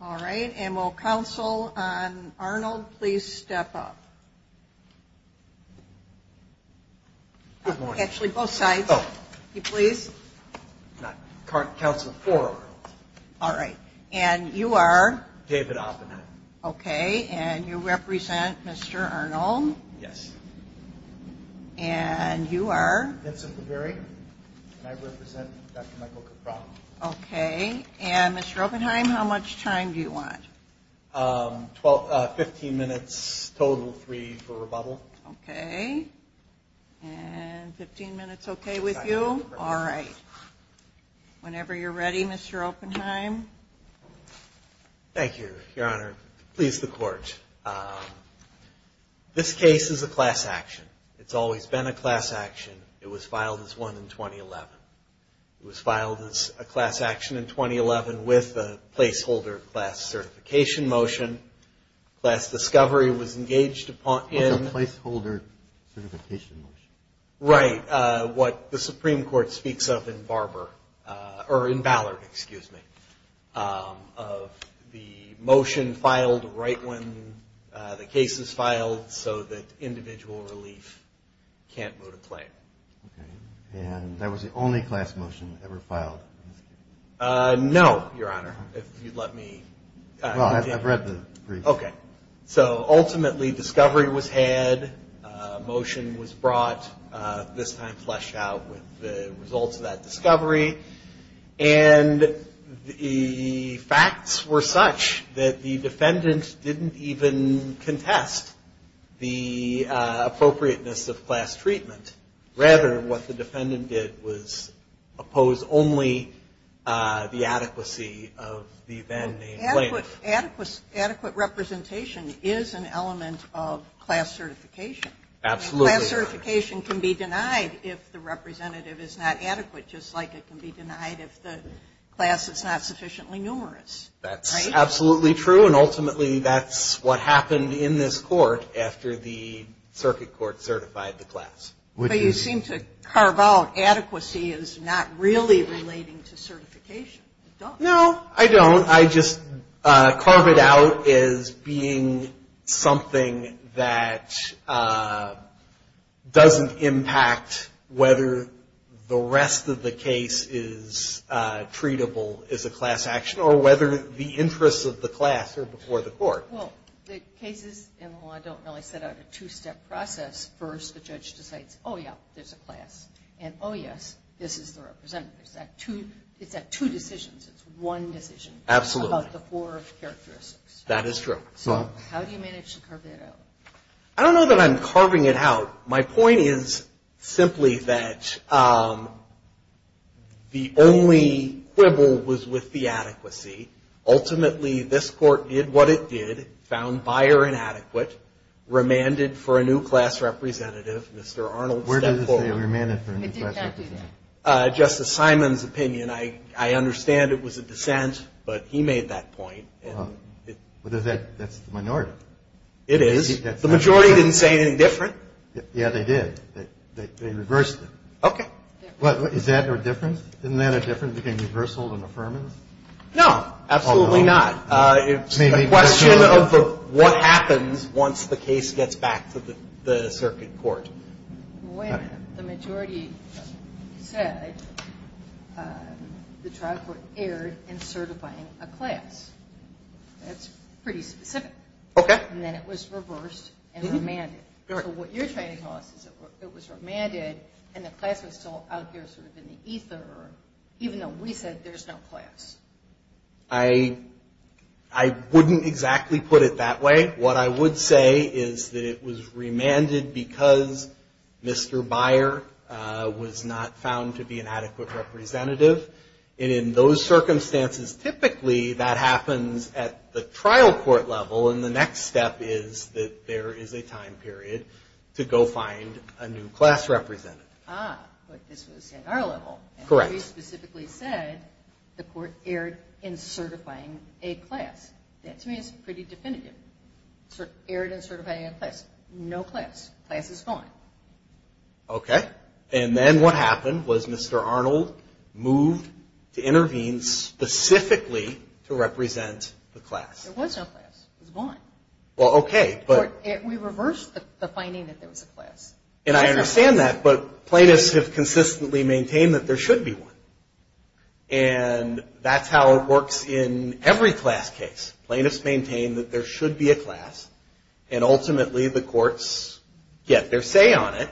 All right, and will Council on Arnold please step up? Actually, both sides, if you please. All right, and you are? David Oppenheim. Okay, and you represent Mr. Arnold? Yes. And you are? Vincent Laverie, and I represent Dr. Michael Kapraun. Okay, and Mr. Oppenheim, how much time do you want? Fifteen minutes total, three for rebuttal. Okay, and fifteen minutes okay with you? Whenever you're ready, Mr. Oppenheim. Thank you, Your Honor. Please, the Court. This case is a class action. It's always been a class action. It was filed as one in 2011. It was filed as a class action in 2011 with a placeholder class certificate. Certification motion, class discovery was engaged upon in. What's a placeholder certification motion? Right, what the Supreme Court speaks of in Barber, or in Ballard, excuse me, of the motion filed right when the case is filed so that individual relief can't go to play. Okay, and that was the only class motion ever filed? No, Your Honor, if you'd let me. Well, I've read the brief. Okay, so ultimately discovery was had, motion was brought, this time fleshed out with the results of that discovery, and the facts were such that the defendant didn't even contest the appropriateness of class treatment. Rather, what the defendant did was oppose only the adequacy of the then named plaintiff. Adequate representation is an element of class certification. Absolutely. Class certification can be denied if the representative is not adequate, just like it can be denied if the class is not sufficiently numerous. That's absolutely true, and ultimately that's what happened in this court after the circuit court certified the class. But you seem to carve out adequacy as not really relating to certification. No, I don't. I just carve it out as being something that doesn't impact whether the rest of the case is treatable as a class action, or whether the interests of the class are before the court. Well, the cases in law don't really set out a two-step process. First, the judge decides, oh, yeah, there's a class, and oh, yes, this is the representative. It's that two decisions. It's one decision. Absolutely. About the four characteristics. That is true. So how do you manage to carve that out? I don't know that I'm carving it out. My point is simply that the only quibble was with the adequacy. Ultimately, this court did what it did, and it was a case that found Beyer inadequate, remanded for a new class representative. Mr. Arnold stepped forward. Where did it say remanded for a new class representative? It did not do that. Justice Simon's opinion. I understand it was a dissent, but he made that point. Well, that's the minority. It is. The majority didn't say anything different. Yeah, they did. They reversed it. Okay. What, is that their difference? Isn't that a difference between reversal and affirmance? No, absolutely not. It's a question of what happens once the case gets back to the circuit court. When the majority said the trial court erred in certifying a class. That's pretty specific. Okay. And then it was reversed and remanded. Correct. So what you're trying to tell us is it was remanded, and the class was still out there sort of in the ether, even though we said there's no class. I wouldn't exactly put it that way. What I would say is that it was remanded because Mr. Beyer was not found to be an adequate representative. And in those circumstances, typically that happens at the trial court level, and the next step is that there is a time period to go find a new class representative. Ah, but this was at our level. Correct. And you specifically said the court erred in certifying a class. That to me is pretty definitive. Erred in certifying a class. No class. Class is gone. Okay. And then what happened was Mr. Arnold moved to intervene specifically to represent the class. There was no class. It was gone. Well, okay. We reversed the finding that there was a class. And I understand that, but plaintiffs have consistently maintained that there should be one. And that's how it works in every class case. Plaintiffs maintain that there should be a class, and ultimately the courts get their say on it.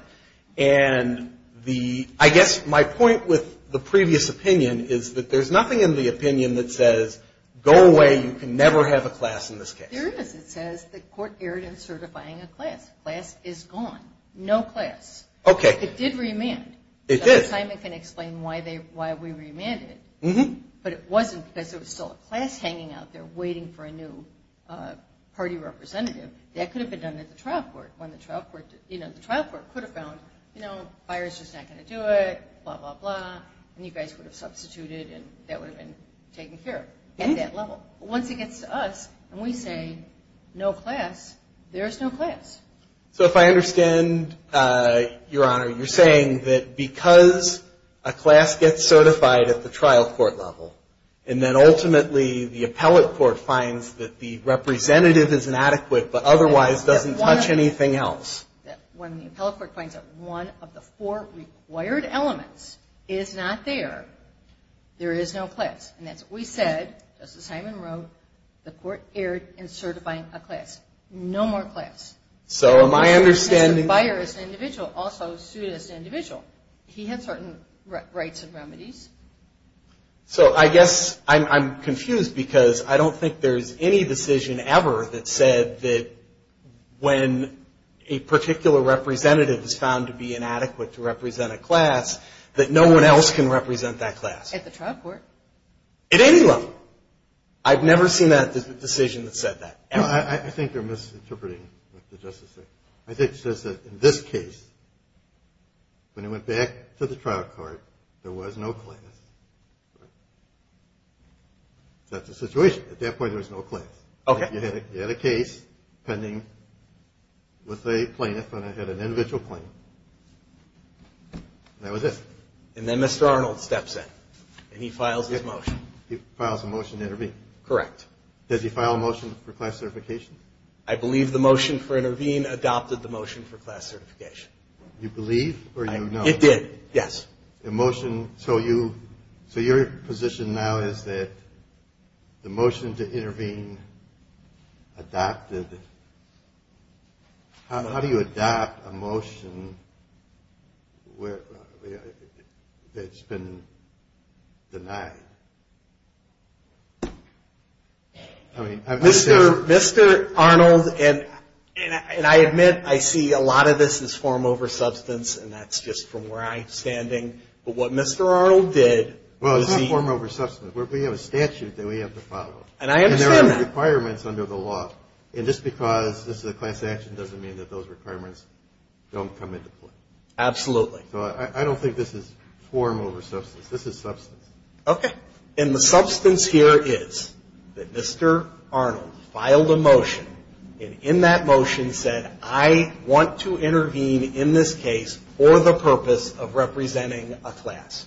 And the, I guess my point with the previous opinion is that there's nothing in the opinion that says go away, you can never have a class in this case. There is. It says the court erred in certifying a class. Class is gone. No class. Okay. It did remand. It did. At the time I can explain why we remanded it. But it wasn't because there was still a class hanging out there waiting for a new party representative. That could have been done at the trial court. When the trial court, you know, the trial court could have found, you know, fire's just not going to do it, blah, blah, blah. And you guys would have substituted and that would have been taken care of at that level. Once it gets to us and we say no class, there's no class. So if I understand, Your Honor, you're saying that because a class gets certified at the trial court level, and then ultimately the appellate court finds that the representative is inadequate, but otherwise doesn't touch anything else. When the appellate court finds that one of the four required elements is not there, there is no class. And that's what we said, Justice Hyman wrote, the court erred in certifying a class. No more class. So am I understanding Fire is an individual, also suit is an individual. He had certain rights and remedies. So I guess I'm confused because I don't think there's any decision ever that said that when a particular representative is found to be inadequate to represent a class, that no one else can represent that class. At the trial court? At any level. I've never seen a decision that said that. I think you're misinterpreting what the Justice said. I think it says that in this case, when it went back to the trial court, there was no class. That's the situation. At that point, there was no class. You had a case pending with a plaintiff, and it had an individual plaintiff. That was it. And then Mr. Arnold steps in, and he files his motion. He files a motion to intervene. Correct. Does he file a motion for class certification? I believe the motion for intervene adopted the motion for class certification. You believe or you don't? It did, yes. The motion, so you, so your position now is that the motion to intervene adopted, how do you adopt a motion that's been denied? Mr. Arnold, and I admit I see a lot of this as form over substance, and that's just from where I'm standing, but what Mr. Arnold did was he Well, it's not form over substance. We have a statute that we have to follow. And I understand that. And there are requirements under the law, and just because this is a class action doesn't mean that those requirements don't come into play. Absolutely. So I don't think this is form over substance. This is substance. Okay. And the substance here is that Mr. Arnold filed a motion, and in that motion said, I want to intervene in this case for the purpose of representing a class.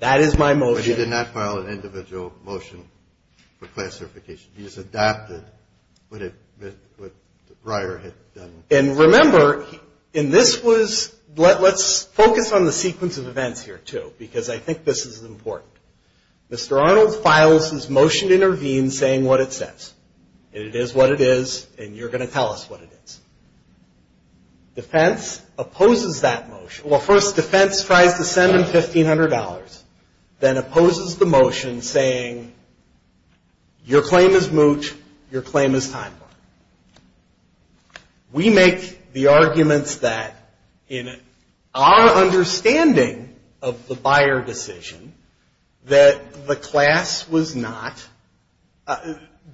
That is my motion. But he did not file an individual motion for class certification. He just adopted what Reier had done. And remember, in this was, let's focus on the sequence of events here, too, because I think this is important. Mr. Arnold files his motion to intervene saying what it says. And it is what it is, and you're going to tell us what it is. Defense opposes that motion. Well, first, defense tries to send $1,500, then opposes the motion saying your claim is mooch, your claim is time bar. We make the arguments that in our understanding of the buyer decision, that the class was not,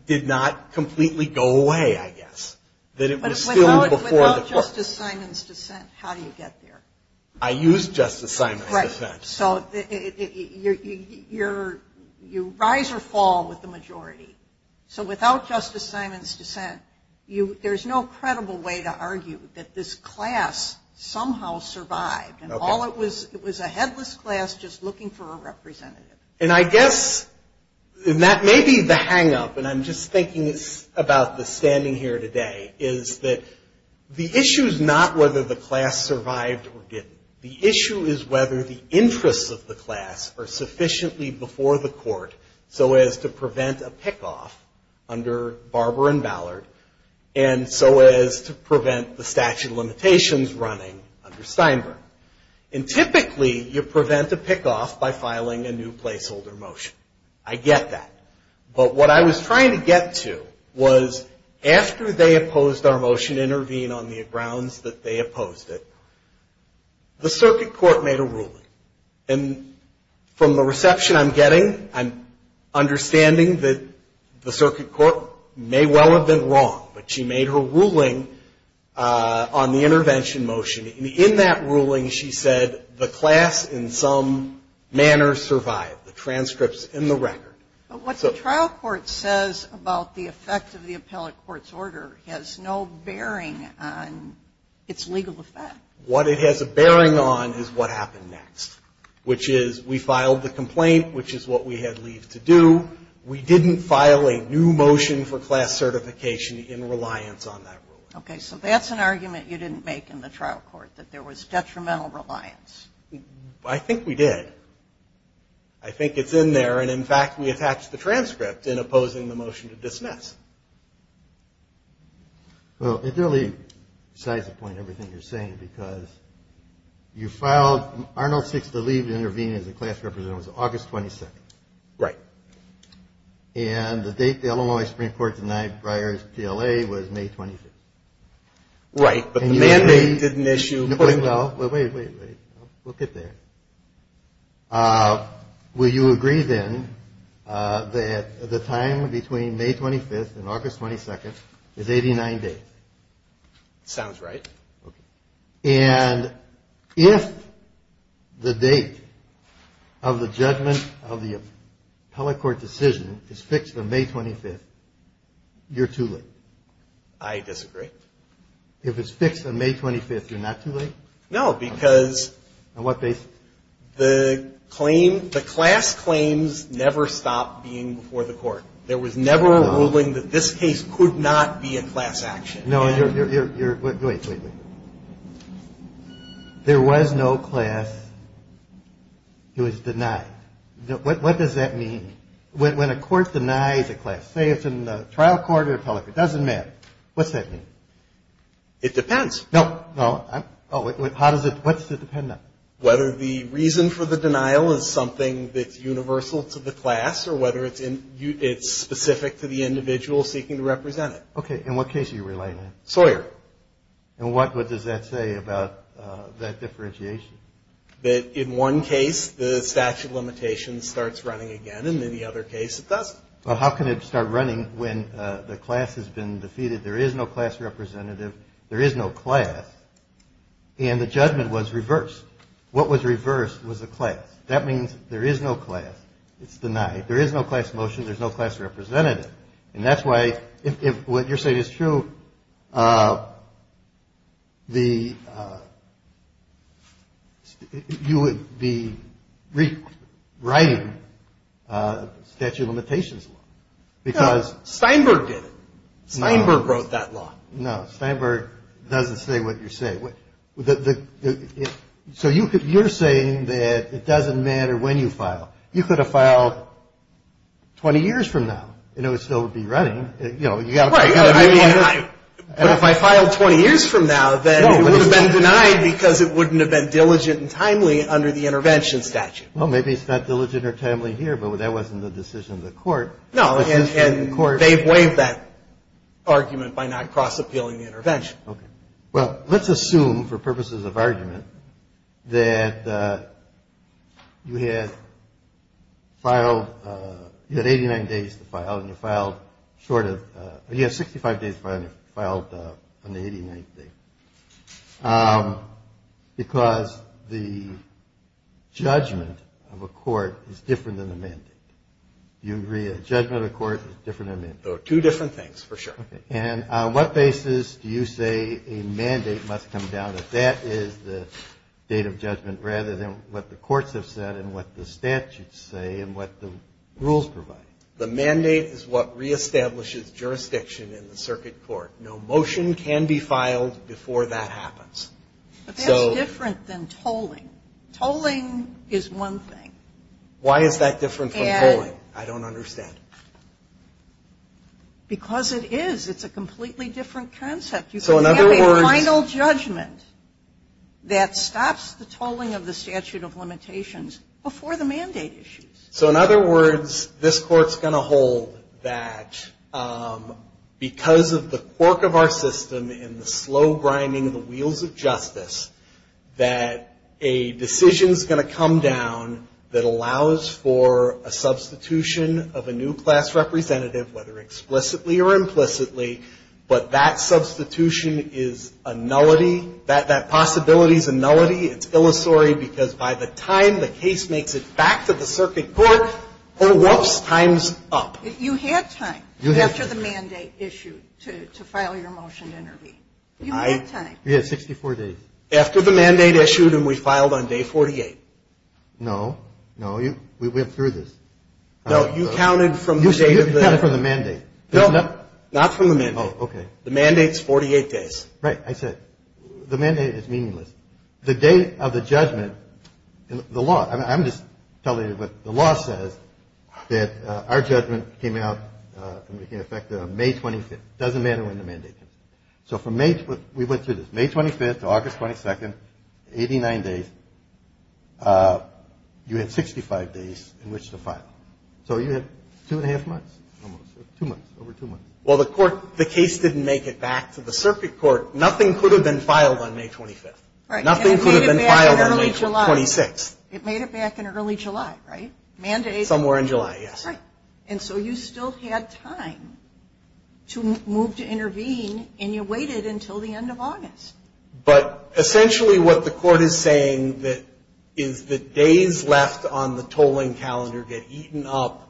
did not completely go away, I guess. That it was still before the court. Without Justice Simon's dissent, how do you get there? I used Justice Simon's dissent. Right. So you rise or fall with the majority. So without Justice Simon's dissent, there's no credible way to argue that this class somehow survived. And all it was, it was a headless class just looking for a representative. And I guess, and that may be the hangup, and I'm just thinking about the standing here today, is that the issue is not whether the class survived or didn't. The issue is whether the interests of the class are sufficiently before the court so as to prevent a pick-off under Barber and Ballard, and so as to prevent the statute of limitations running under Steinberg. And typically, you prevent a pick-off by filing a new placeholder motion. I get that. But what I was trying to get to was after they opposed our motion, intervene on the grounds that they opposed it, the circuit court made a ruling. And from the reception I'm getting, I'm understanding that the circuit court may well have been wrong, but she made her record. But what the trial court says about the effect of the appellate court's order has no bearing on its legal effect. What it has a bearing on is what happened next, which is we filed the complaint, which is what we had leave to do. We didn't file a new motion for class certification in reliance on that ruling. Okay. So that's an argument you didn't make in the trial court, that there was detrimental reliance. I think we did. I think it's in there, and in fact, we attached the transcript in opposing the motion to dismiss. Well, it really cites a point in everything you're saying because you filed Arnold Six to leave to intervene as a class representative. It was August 22nd. Right. And the date the Illinois Supreme Court denied Breyer's TLA was May 25th. Right, but the mandate didn't issue. Well, wait, wait, wait. We'll get there. Will you agree, then, that the time between May 25th and August 22nd is 89 days? Sounds right. And if the date of the judgment of the appellate court decision is fixed on May 25th, you're too late. I disagree. If it's fixed on May 25th, you're not too late? No, because the class claims never stopped being before the court. There was never a ruling that this case could not be a class action. Wait, wait, wait. There was no class who was denied. What does that mean? When a court denies a class, say it's in the trial court or appellate, it doesn't matter. What's that mean? It depends. No, no. How does it – what does it depend on? Whether the reason for the denial is something that's universal to the class or whether it's specific to the individual seeking to represent it. Okay. In what case are you relying on? Sawyer. And what does that say about that differentiation? That in one case the statute of limitations starts running again and in the other case it doesn't. Well, how can it start running when the class has been defeated? There is no class representative. There is no class. And the judgment was reversed. What was reversed was the class. That means there is no class. It's denied. There is no class motion. There's no class representative. And that's why if what you're saying is true, the – you would be rewriting statute of limitations law because – Steinberg did it. Steinberg wrote that law. No, Steinberg doesn't say what you're saying. So you're saying that it doesn't matter when you file. You could have filed 20 years from now and it would still be running. You know, you've got a million years. But if I filed 20 years from now, then it would have been denied because it wouldn't have been diligent and timely under the intervention statute. Well, maybe it's not diligent or timely here, but that wasn't the decision of the court. No, and they've waived that argument by not cross-appealing the intervention. Okay. Well, let's assume for purposes of argument that you had filed – you had 89 days to file and you filed short of – you had 65 days to file and you filed on the 89th day because the judgment of a court is different than the mandate. Do you agree a judgment of a court is different than a mandate? Two different things, for sure. Okay. And on what basis do you say a mandate must come down if that is the date of judgment rather than what the courts have said and what the statutes say and what the rules provide? The mandate is what reestablishes jurisdiction in the circuit court. No motion can be filed before that happens. But that's different than tolling. Tolling is one thing. Why is that different from tolling? I don't understand. Because it is. It's a completely different concept. You can have a final judgment that stops the tolling of the statute of limitations before the mandate issues. So in other words, this court's going to hold that because of the quirk of our system and the slow grinding of the wheels of justice, that a decision is going to come down that allows for a substitution of a new class representative, whether explicitly or implicitly, but that substitution is a nullity. That possibility is a nullity. It's illusory because by the time the case makes it back to the circuit court, oh, whoops, time's up. You had time after the mandate issue to file your motion to intervene. You had time. You had 64 days. After the mandate issued and we filed on day 48. No. No. We went through this. No, you counted from the date of the mandate. No, not from the mandate. Oh, okay. The mandate's 48 days. Right. I said the mandate is meaningless. The date of the judgment, the law, I'm just telling you what the law says, that our judgment came out and became effective on May 25th. It doesn't matter when the mandate comes. So from May, we went through this, May 25th to August 22nd, 89 days, you had 65 days in which to file. So you had two and a half months, two months, over two months. Well, the court, the case didn't make it back to the circuit court. Nothing could have been filed on May 25th. Right. Nothing could have been filed on May 26th. It made it back in early July, right? Mandate. Somewhere in July, yes. Right. And so you still had time to move to intervene, and you waited until the end of August. But essentially what the court is saying is that days left on the tolling calendar get eaten up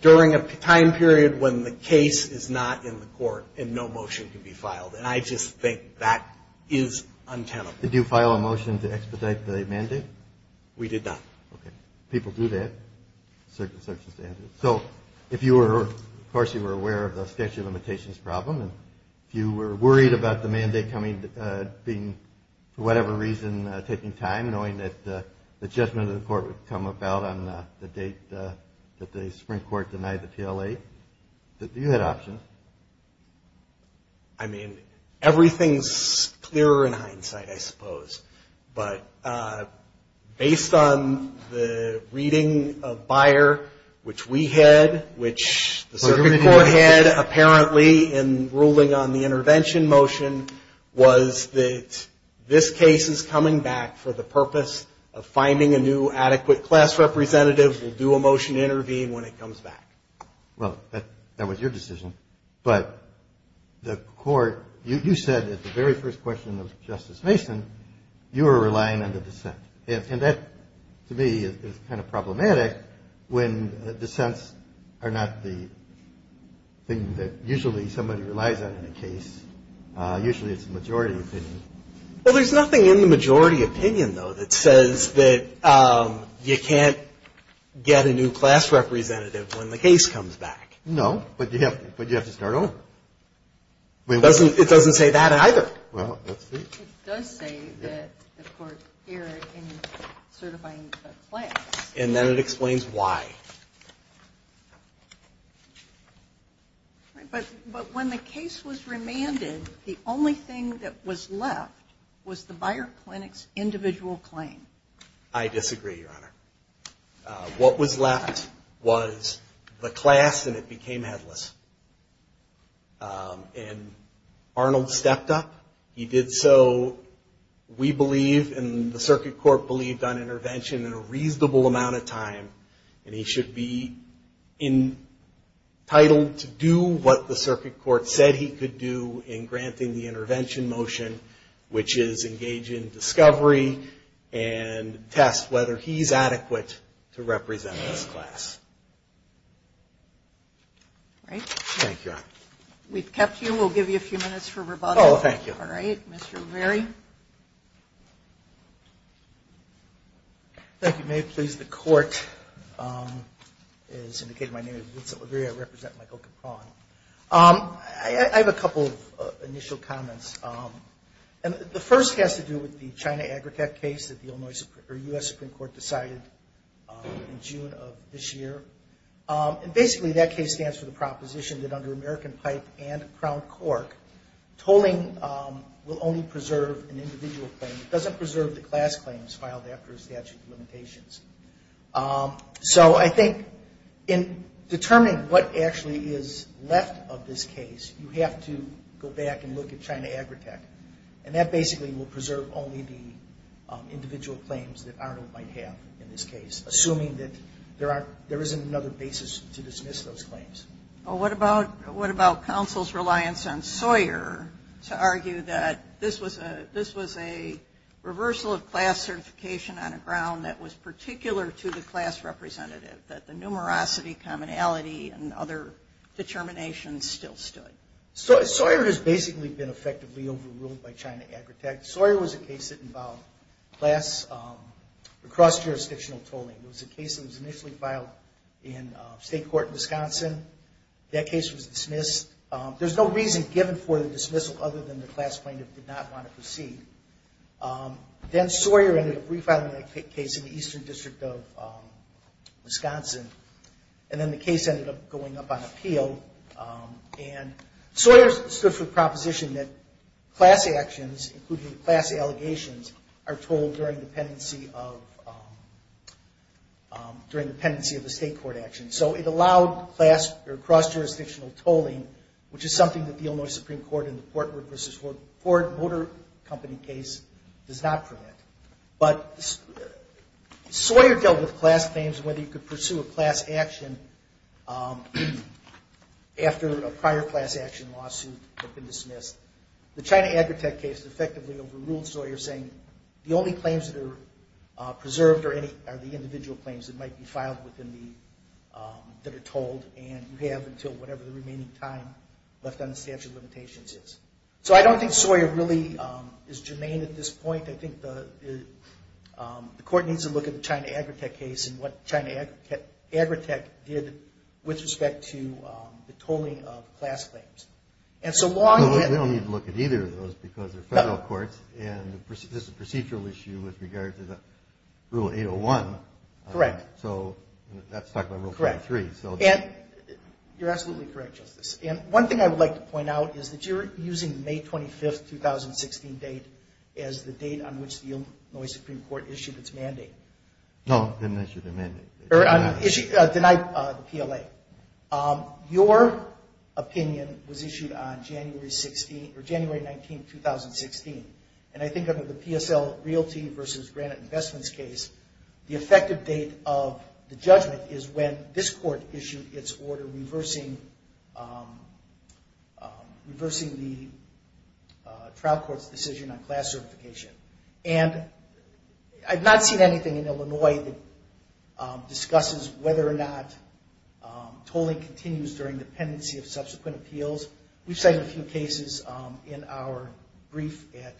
during a time period when the case is not in the court and no motion can be filed, and I just think that is untenable. Did you file a motion to expedite the mandate? We did not. Okay. People do that. So if you were, of course, you were aware of the statute of limitations problem, and if you were worried about the mandate being, for whatever reason, taking time, knowing that the judgment of the court would come about on the date that the Supreme Court denied the TLA, you had options. I mean, everything is clearer in hindsight, I suppose. But based on the reading of Beyer, which we had, which the Supreme Court had apparently in ruling on the intervention motion, was that this case is coming back for the purpose of finding a new adequate class representative who will do a motion to intervene when it comes back. Well, that was your decision. But the court, you said at the very first question of Justice Mason, you were relying on the dissent. And that, to me, is kind of problematic when dissents are not the thing that usually somebody relies on in a case. Usually it's the majority opinion. Well, there's nothing in the majority opinion, though, that says that you can't get a new class representative when the case comes back. No, but you have to start over. It doesn't say that either. Well, let's see. It does say that the court erred in certifying the class. And then it explains why. But when the case was remanded, the only thing that was left was the Beyer Clinic's individual claim. I disagree, Your Honor. What was left was the class, and it became headless. And Arnold stepped up. He did so, we believe, and the circuit court believed, on intervention in a reasonable amount of time. And he should be entitled to do what the circuit court said he could do in granting the intervention motion, which is engage in discovery and test whether he's adequate to represent this class. All right. Thank you, Your Honor. We've kept you. We'll give you a few minutes for rebuttal. Oh, thank you. All right. Mr. Laverie? Thank you. May it please the court. As indicated, my name is Vincent Laverie. I represent Michael Capron. I have a couple of initial comments. The first has to do with the China aggregate case that the U.S. Supreme Court decided in June of this year. Basically, that case stands for the proposition that under American Pipe and Crown Cork, tolling will only preserve an individual claim. It doesn't preserve the class claims filed after a statute of limitations. So I think in determining what actually is left of this case, you have to go back and look at China aggregate. And that basically will preserve only the individual claims that Arnold might have in this case, assuming that there isn't another basis to dismiss those claims. Well, what about counsel's reliance on Sawyer to argue that this was a reversal of class certification on a ground that was particular to the class representative, that the numerosity, commonality, and other determinations still stood? Sawyer has basically been effectively overruled by China aggregate. Sawyer was a case that involved class cross-jurisdictional tolling. It was a case that was initially filed in state court in Wisconsin. That case was dismissed. There's no reason given for the dismissal other than the class plaintiff did not want to proceed. Then Sawyer ended up refiling that case in the Eastern District of Wisconsin. And then the case ended up going up on appeal. And Sawyer stood for the proposition that class actions, including class allegations, are tolled during the pendency of the state court action. So it allowed class or cross-jurisdictional tolling, which is something that the Illinois Supreme Court in the Portwood v. Ford Motor Company case does not permit. But Sawyer dealt with class claims, whether you could pursue a class action after a prior class action lawsuit had been dismissed. The China aggregate case effectively overruled Sawyer, saying the only claims that are preserved are the individual claims that might be filed that are tolled, and you have until whatever the remaining time left on the statute of limitations is. So I don't think Sawyer really is germane at this point. I think the court needs to look at the China aggregate case and what China aggregate did with respect to the tolling of class claims. We don't need to look at either of those because they're federal courts, and this is a procedural issue with regard to the Rule 801. Correct. So that's talking about Rule 23. Correct. And you're absolutely correct, Justice. And one thing I would like to point out is that you're using the May 25, 2016 date as the date on which the Illinois Supreme Court issued its mandate. No, it didn't issue the mandate. Denied the PLA. Your opinion was issued on January 19, 2016, and I think under the PSL Realty v. Granite Investments case, the effective date of the judgment is when this court issued its order reversing the trial court's decision on class certification. And I've not seen anything in Illinois that discusses whether or not tolling continues during dependency of subsequent appeals. We've cited a few cases in our brief at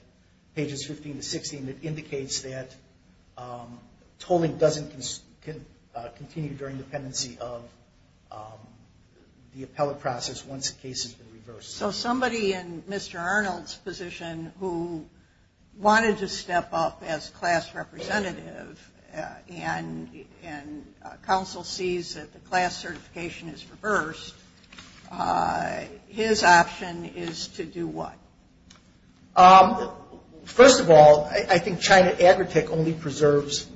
pages 15 to 16 that indicates that tolling doesn't continue during dependency of the appellate process once the case has been reversed. So somebody in Mr. Arnold's position who wanted to step up as class representative and counsel sees that the class certification is reversed, his option is to do what? First of all, I think China Agritech only preserves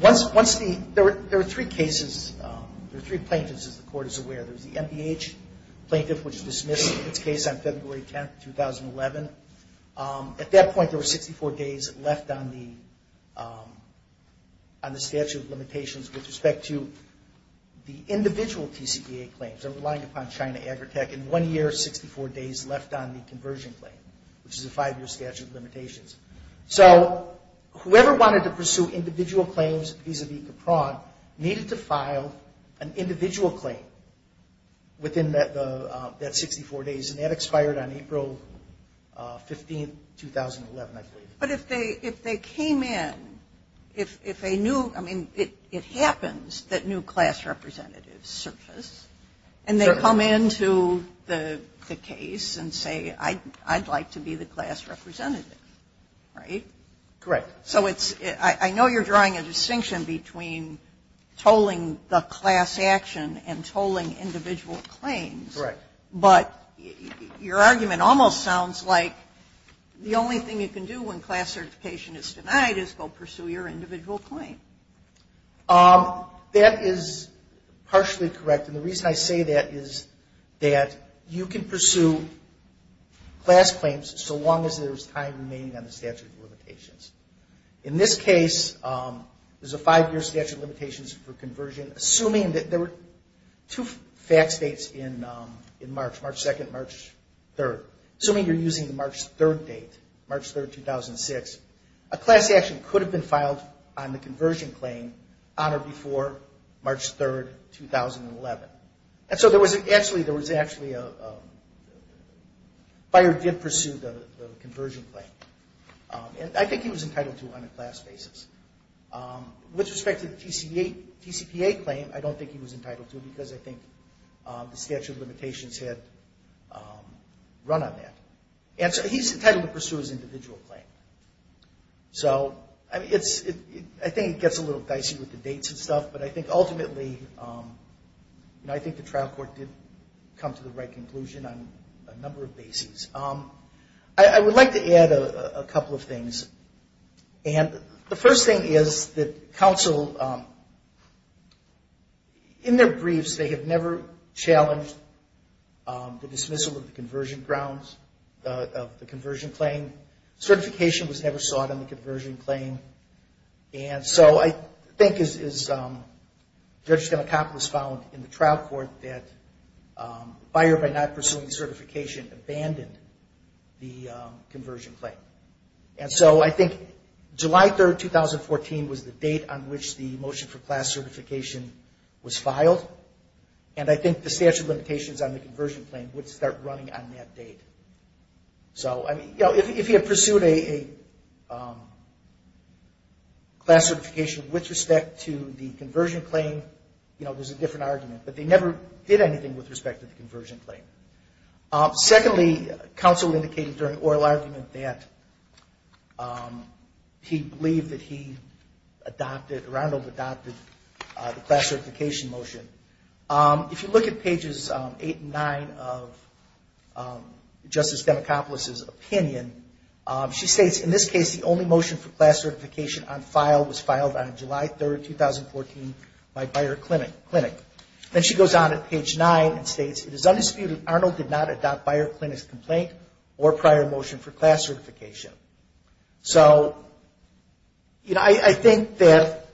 once the – there are three cases, there are three plaintiffs, as the court is aware. There's the MDH plaintiff, which dismissed its case on February 10, 2011. At that point, there were 64 days left on the statute of limitations with respect to the individual TCPA claims. I'm relying upon China Agritech. In one year, 64 days left on the conversion claim, which is a five-year statute of limitations. So whoever wanted to pursue individual claims vis-à-vis Capron needed to file an individual claim within that 64 days, and that expired on April 15, 2011, I believe. But if they came in, if they knew – I mean, it happens that new class representatives surface, and they come into the case and say, I'd like to be the class representative, right? Correct. So it's – I know you're drawing a distinction between tolling the class action and tolling individual claims. Correct. But your argument almost sounds like the only thing you can do when class certification is denied is go pursue your individual claim. That is partially correct. And the reason I say that is that you can pursue class claims so long as there's time remaining on the statute of limitations. In this case, there's a five-year statute of limitations for conversion. Assuming that there were two fax dates in March, March 2nd and March 3rd. Assuming you're using the March 3rd date, March 3rd, 2006, a class action could have been filed on the conversion claim on or before March 3rd, 2011. And so there was actually a – Byer did pursue the conversion claim. And I think he was entitled to it on a class basis. With respect to the TCPA claim, I don't think he was entitled to it because I think the statute of limitations had run on that. And so he's entitled to pursue his individual claim. So I think it gets a little dicey with the dates and stuff, but I think ultimately, I think the trial court did come to the right conclusion on a number of bases. I would like to add a couple of things. And the first thing is that counsel, in their briefs, they have never challenged the dismissal of the conversion claims. Certification was never sought on the conversion claim. And so I think, as Judge Stenokopoulos found in the trial court, that Byer, by not pursuing certification, abandoned the conversion claim. And so I think July 3rd, 2014, was the date on which the motion for class certification was filed. And I think the statute of limitations on the conversion claim would start running on that date. So if he had pursued a class certification with respect to the conversion claim, there's a different argument. But they never did anything with respect to the conversion claim. Secondly, counsel indicated during oral argument that he believed that he adopted, or I don't know if he adopted, the class certification motion. If you look at pages 8 and 9 of Justice Stenokopoulos' opinion, she states, in this case, the only motion for class certification on file was filed on July 3rd, 2014, by Byer Clinic. Then she goes on at page 9 and states, it is undisputed Arnold did not adopt Byer Clinic's complaint or prior motion for class certification. So, you know, I think that...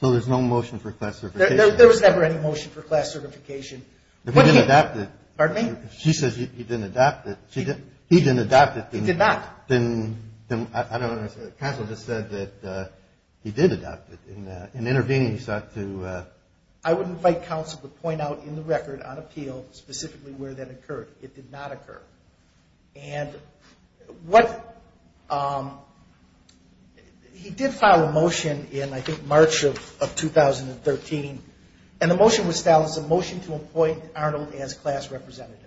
So there's no motion for class certification? There was never any motion for class certification. He didn't adopt it. Pardon me? She says he didn't adopt it. He didn't adopt it. He did not. I don't understand. Counsel just said that he did adopt it. In intervening, he sought to... I would invite counsel to point out in the record on appeal specifically where that occurred. It did not occur. And what... He did file a motion in, I think, March of 2013. And the motion was filed as a motion to appoint Arnold as class representative.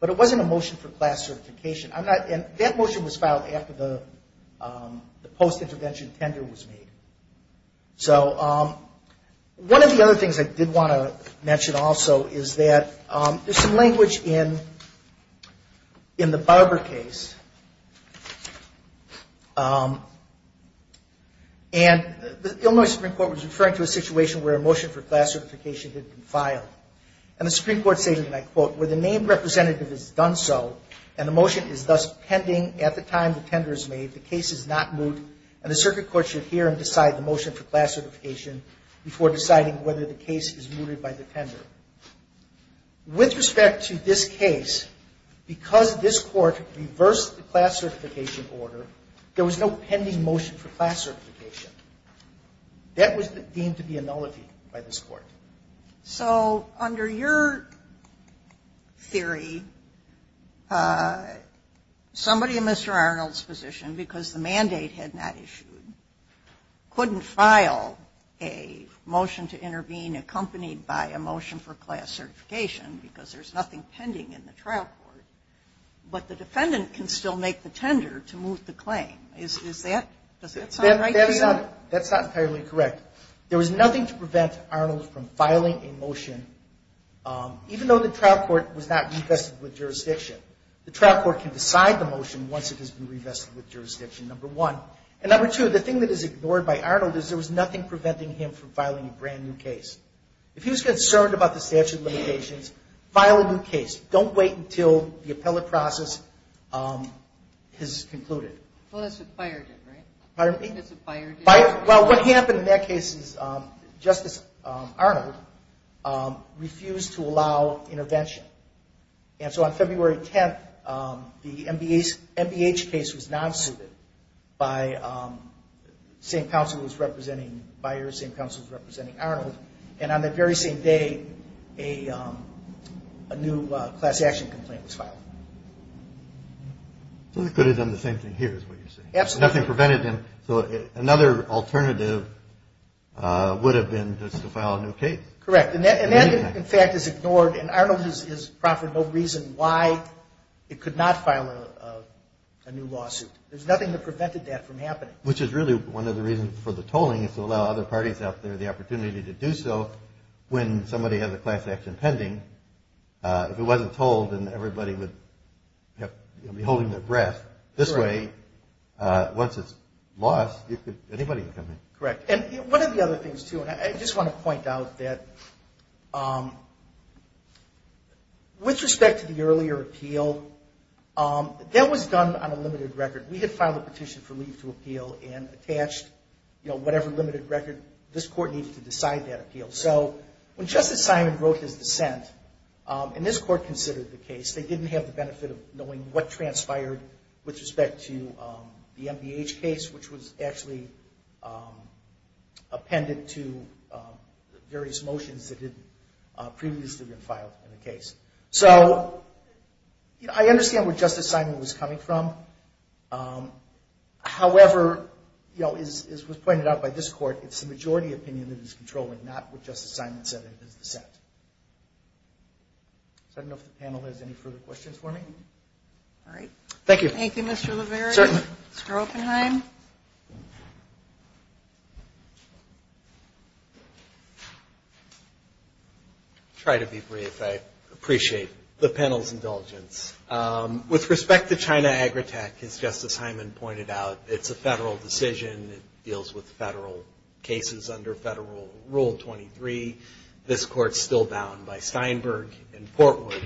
But it wasn't a motion for class certification. I'm not... And that motion was filed after the post-intervention tender was made. So one of the other things I did want to mention also is that there's some language in the Barber case. And the Illinois Supreme Court was referring to a situation where a motion for class certification had been filed. And the Supreme Court stated, and I quote, where the named representative has done so and the motion is thus pending at the time the tender is made, that the case is not moot and the circuit court should hear and decide the motion for class certification before deciding whether the case is mooted by the tender. With respect to this case, because this court reversed the class certification order, there was no pending motion for class certification. That was deemed to be a nullity by this court. So under your theory, somebody in Mr. Arnold's position, because the mandate had not issued, couldn't file a motion to intervene accompanied by a motion for class certification because there's nothing pending in the trial court, but the defendant can still make the tender to moot the claim. Is that... Does that sound right to you? That's not entirely correct. There was nothing to prevent Arnold from filing a motion, even though the trial court was not revested with jurisdiction. The trial court can decide the motion once it has been revested with jurisdiction, number one. And number two, the thing that is ignored by Arnold is there was nothing preventing him from filing a brand new case. If he was concerned about the statute of limitations, file a new case. Don't wait until the appellate process has concluded. Well, that's what FIRE did, right? Pardon me? That's what FIRE did. Well, what happened in that case is Justice Arnold refused to allow intervention. And so on February 10th, the MBH case was non-suited by the same counsel who was representing FIRE, the same counsel who was representing Arnold, and on that very same day a new class action complaint was filed. So they could have done the same thing here is what you're saying. Absolutely. There was nothing preventing him. So another alternative would have been just to file a new case. Correct. And that, in fact, is ignored, and Arnold has proffered no reason why it could not file a new lawsuit. There's nothing that prevented that from happening. Which is really one of the reasons for the tolling is to allow other parties out there the opportunity to do so when somebody has a class action pending. If it wasn't told, then everybody would be holding their breath. This way, once it's lost, anybody can come in. Correct. And one of the other things, too, and I just want to point out that with respect to the earlier appeal, that was done on a limited record. We had filed a petition for leave to appeal and attached whatever limited record this court needed to decide that appeal. So when Justice Simon wrote his dissent, and this court considered the case, they didn't have the benefit of knowing what transpired with respect to the MBH case, which was actually appended to various motions that had previously been filed in the case. So I understand where Justice Simon was coming from. However, as was pointed out by this court, it's the majority opinion that is controlling, not what Justice Simon said in his dissent. I don't know if the panel has any further questions for me. All right. Thank you. Thank you, Mr. LeVere. Certainly. Mr. Oppenheim. I'll try to be brief. I appreciate the panel's indulgence. With respect to China Agritech, as Justice Simon pointed out, it's a federal decision. It deals with federal cases under Federal Rule 23. This court is still bound by Steinberg and Portwood,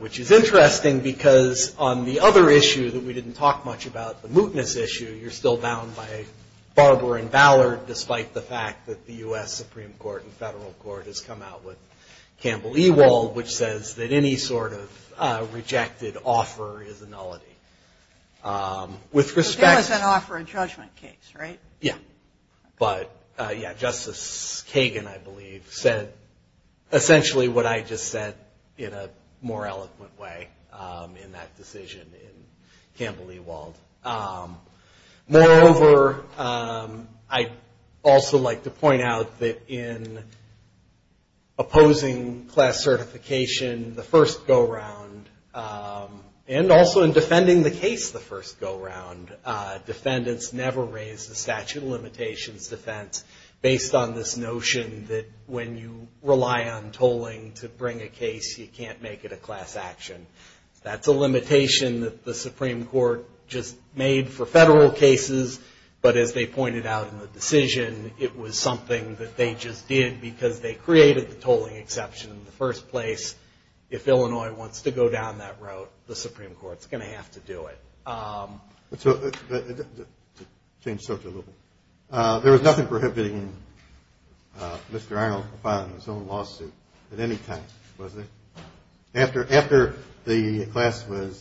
which is interesting, because on the other issue that we didn't talk much about, the mootness issue, you're still bound by Barber and Ballard, despite the fact that the U.S. Supreme Court and federal court has come out with Campbell-Ewald, which says that any sort of rejected offer is a nullity. With respect to the- But there was an offer and judgment case, right? Yeah. But, yeah, Justice Kagan, I believe, said essentially what I just said in a more eloquent way in that decision in Campbell-Ewald. Moreover, I'd also like to point out that in opposing class certification, the first go-round, and also in defending the case the first go-round, defendants never raise the statute of limitations defense, based on this notion that when you rely on tolling to bring a case, you can't make it a class action. That's a limitation that the Supreme Court just made for federal cases, but as they pointed out in the decision, it was something that they just did because they created the tolling exception in the first place. If Illinois wants to go down that road, the Supreme Court's going to have to do it. To change subject a little, there was nothing prohibiting Mr. Arnold from filing his own lawsuit at any time, was there? After the class was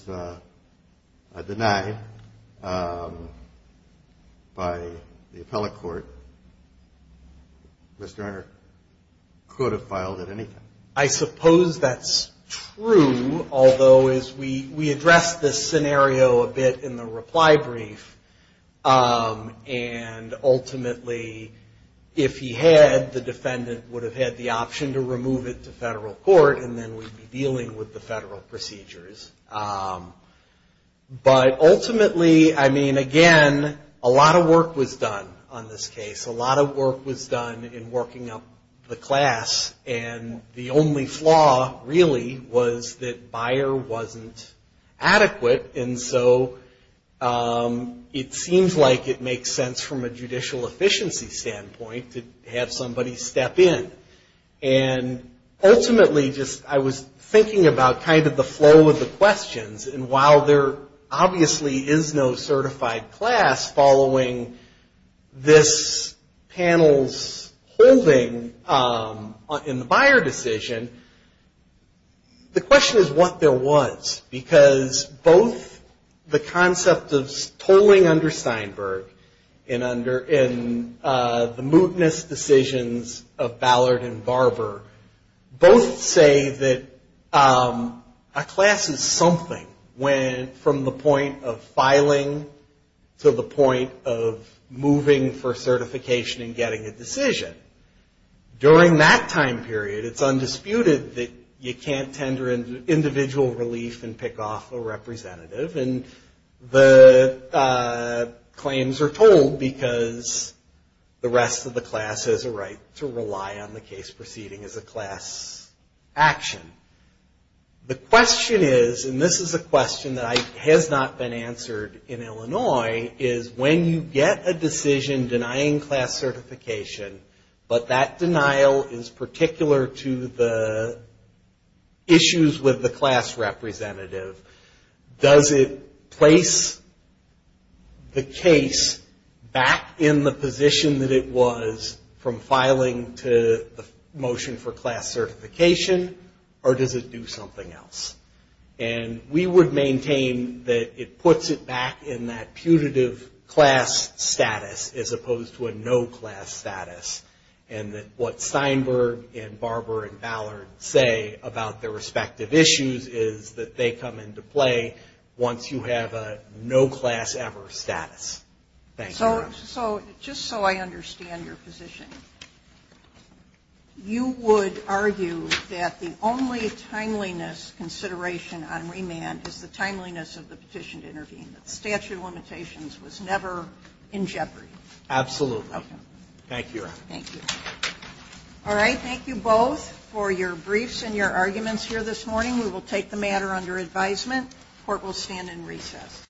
denied by the appellate court, Mr. Arnold could have filed at any time. I suppose that's true, although we addressed this scenario a bit in the reply brief, and ultimately if he had, the defendant would have had the option to remove it to federal court, and then we'd be dealing with the federal procedures. But ultimately, I mean, again, a lot of work was done on this case. A lot of work was done in working up the class, and the only flaw really was that Bayer wasn't adequate, and so it seems like it makes sense from a judicial efficiency standpoint to have somebody step in. And ultimately, I was thinking about kind of the flow of the questions, and while there obviously is no certified class following this panel's holding in the Bayer decision, the question is what there was, because both the concept of tolling under Steinberg and the mootness decisions of Ballard and Barber both say that a class is something from the point of filing to the point of moving for certification and getting a decision. During that time period, it's undisputed that you can't tender individual relief and pick off a representative, and the claims are tolled because the rest of the class has a right to rely on the case proceeding as a class action. The question is, and this is a question that has not been answered in Illinois, is when you get a decision denying class certification, but that denial is particular to the issues with the class representative, does it place the case back in the position that it was from filing to the motion for class certification, or does it do something else? And we would maintain that it puts it back in that putative class status as opposed to a no class status, and that what Steinberg and Barber and Ballard say about their respective issues is that they come into play once you have a no class ever status. So just so I understand your position, you would argue that the only timeliness consideration on remand is the timeliness of the petition to intervene, that the statute of limitations was never in jeopardy? Absolutely. Okay. Thank you, Your Honor. Thank you. All right, thank you both for your briefs and your arguments here this morning. We will take the matter under advisement. Court will stand in recess.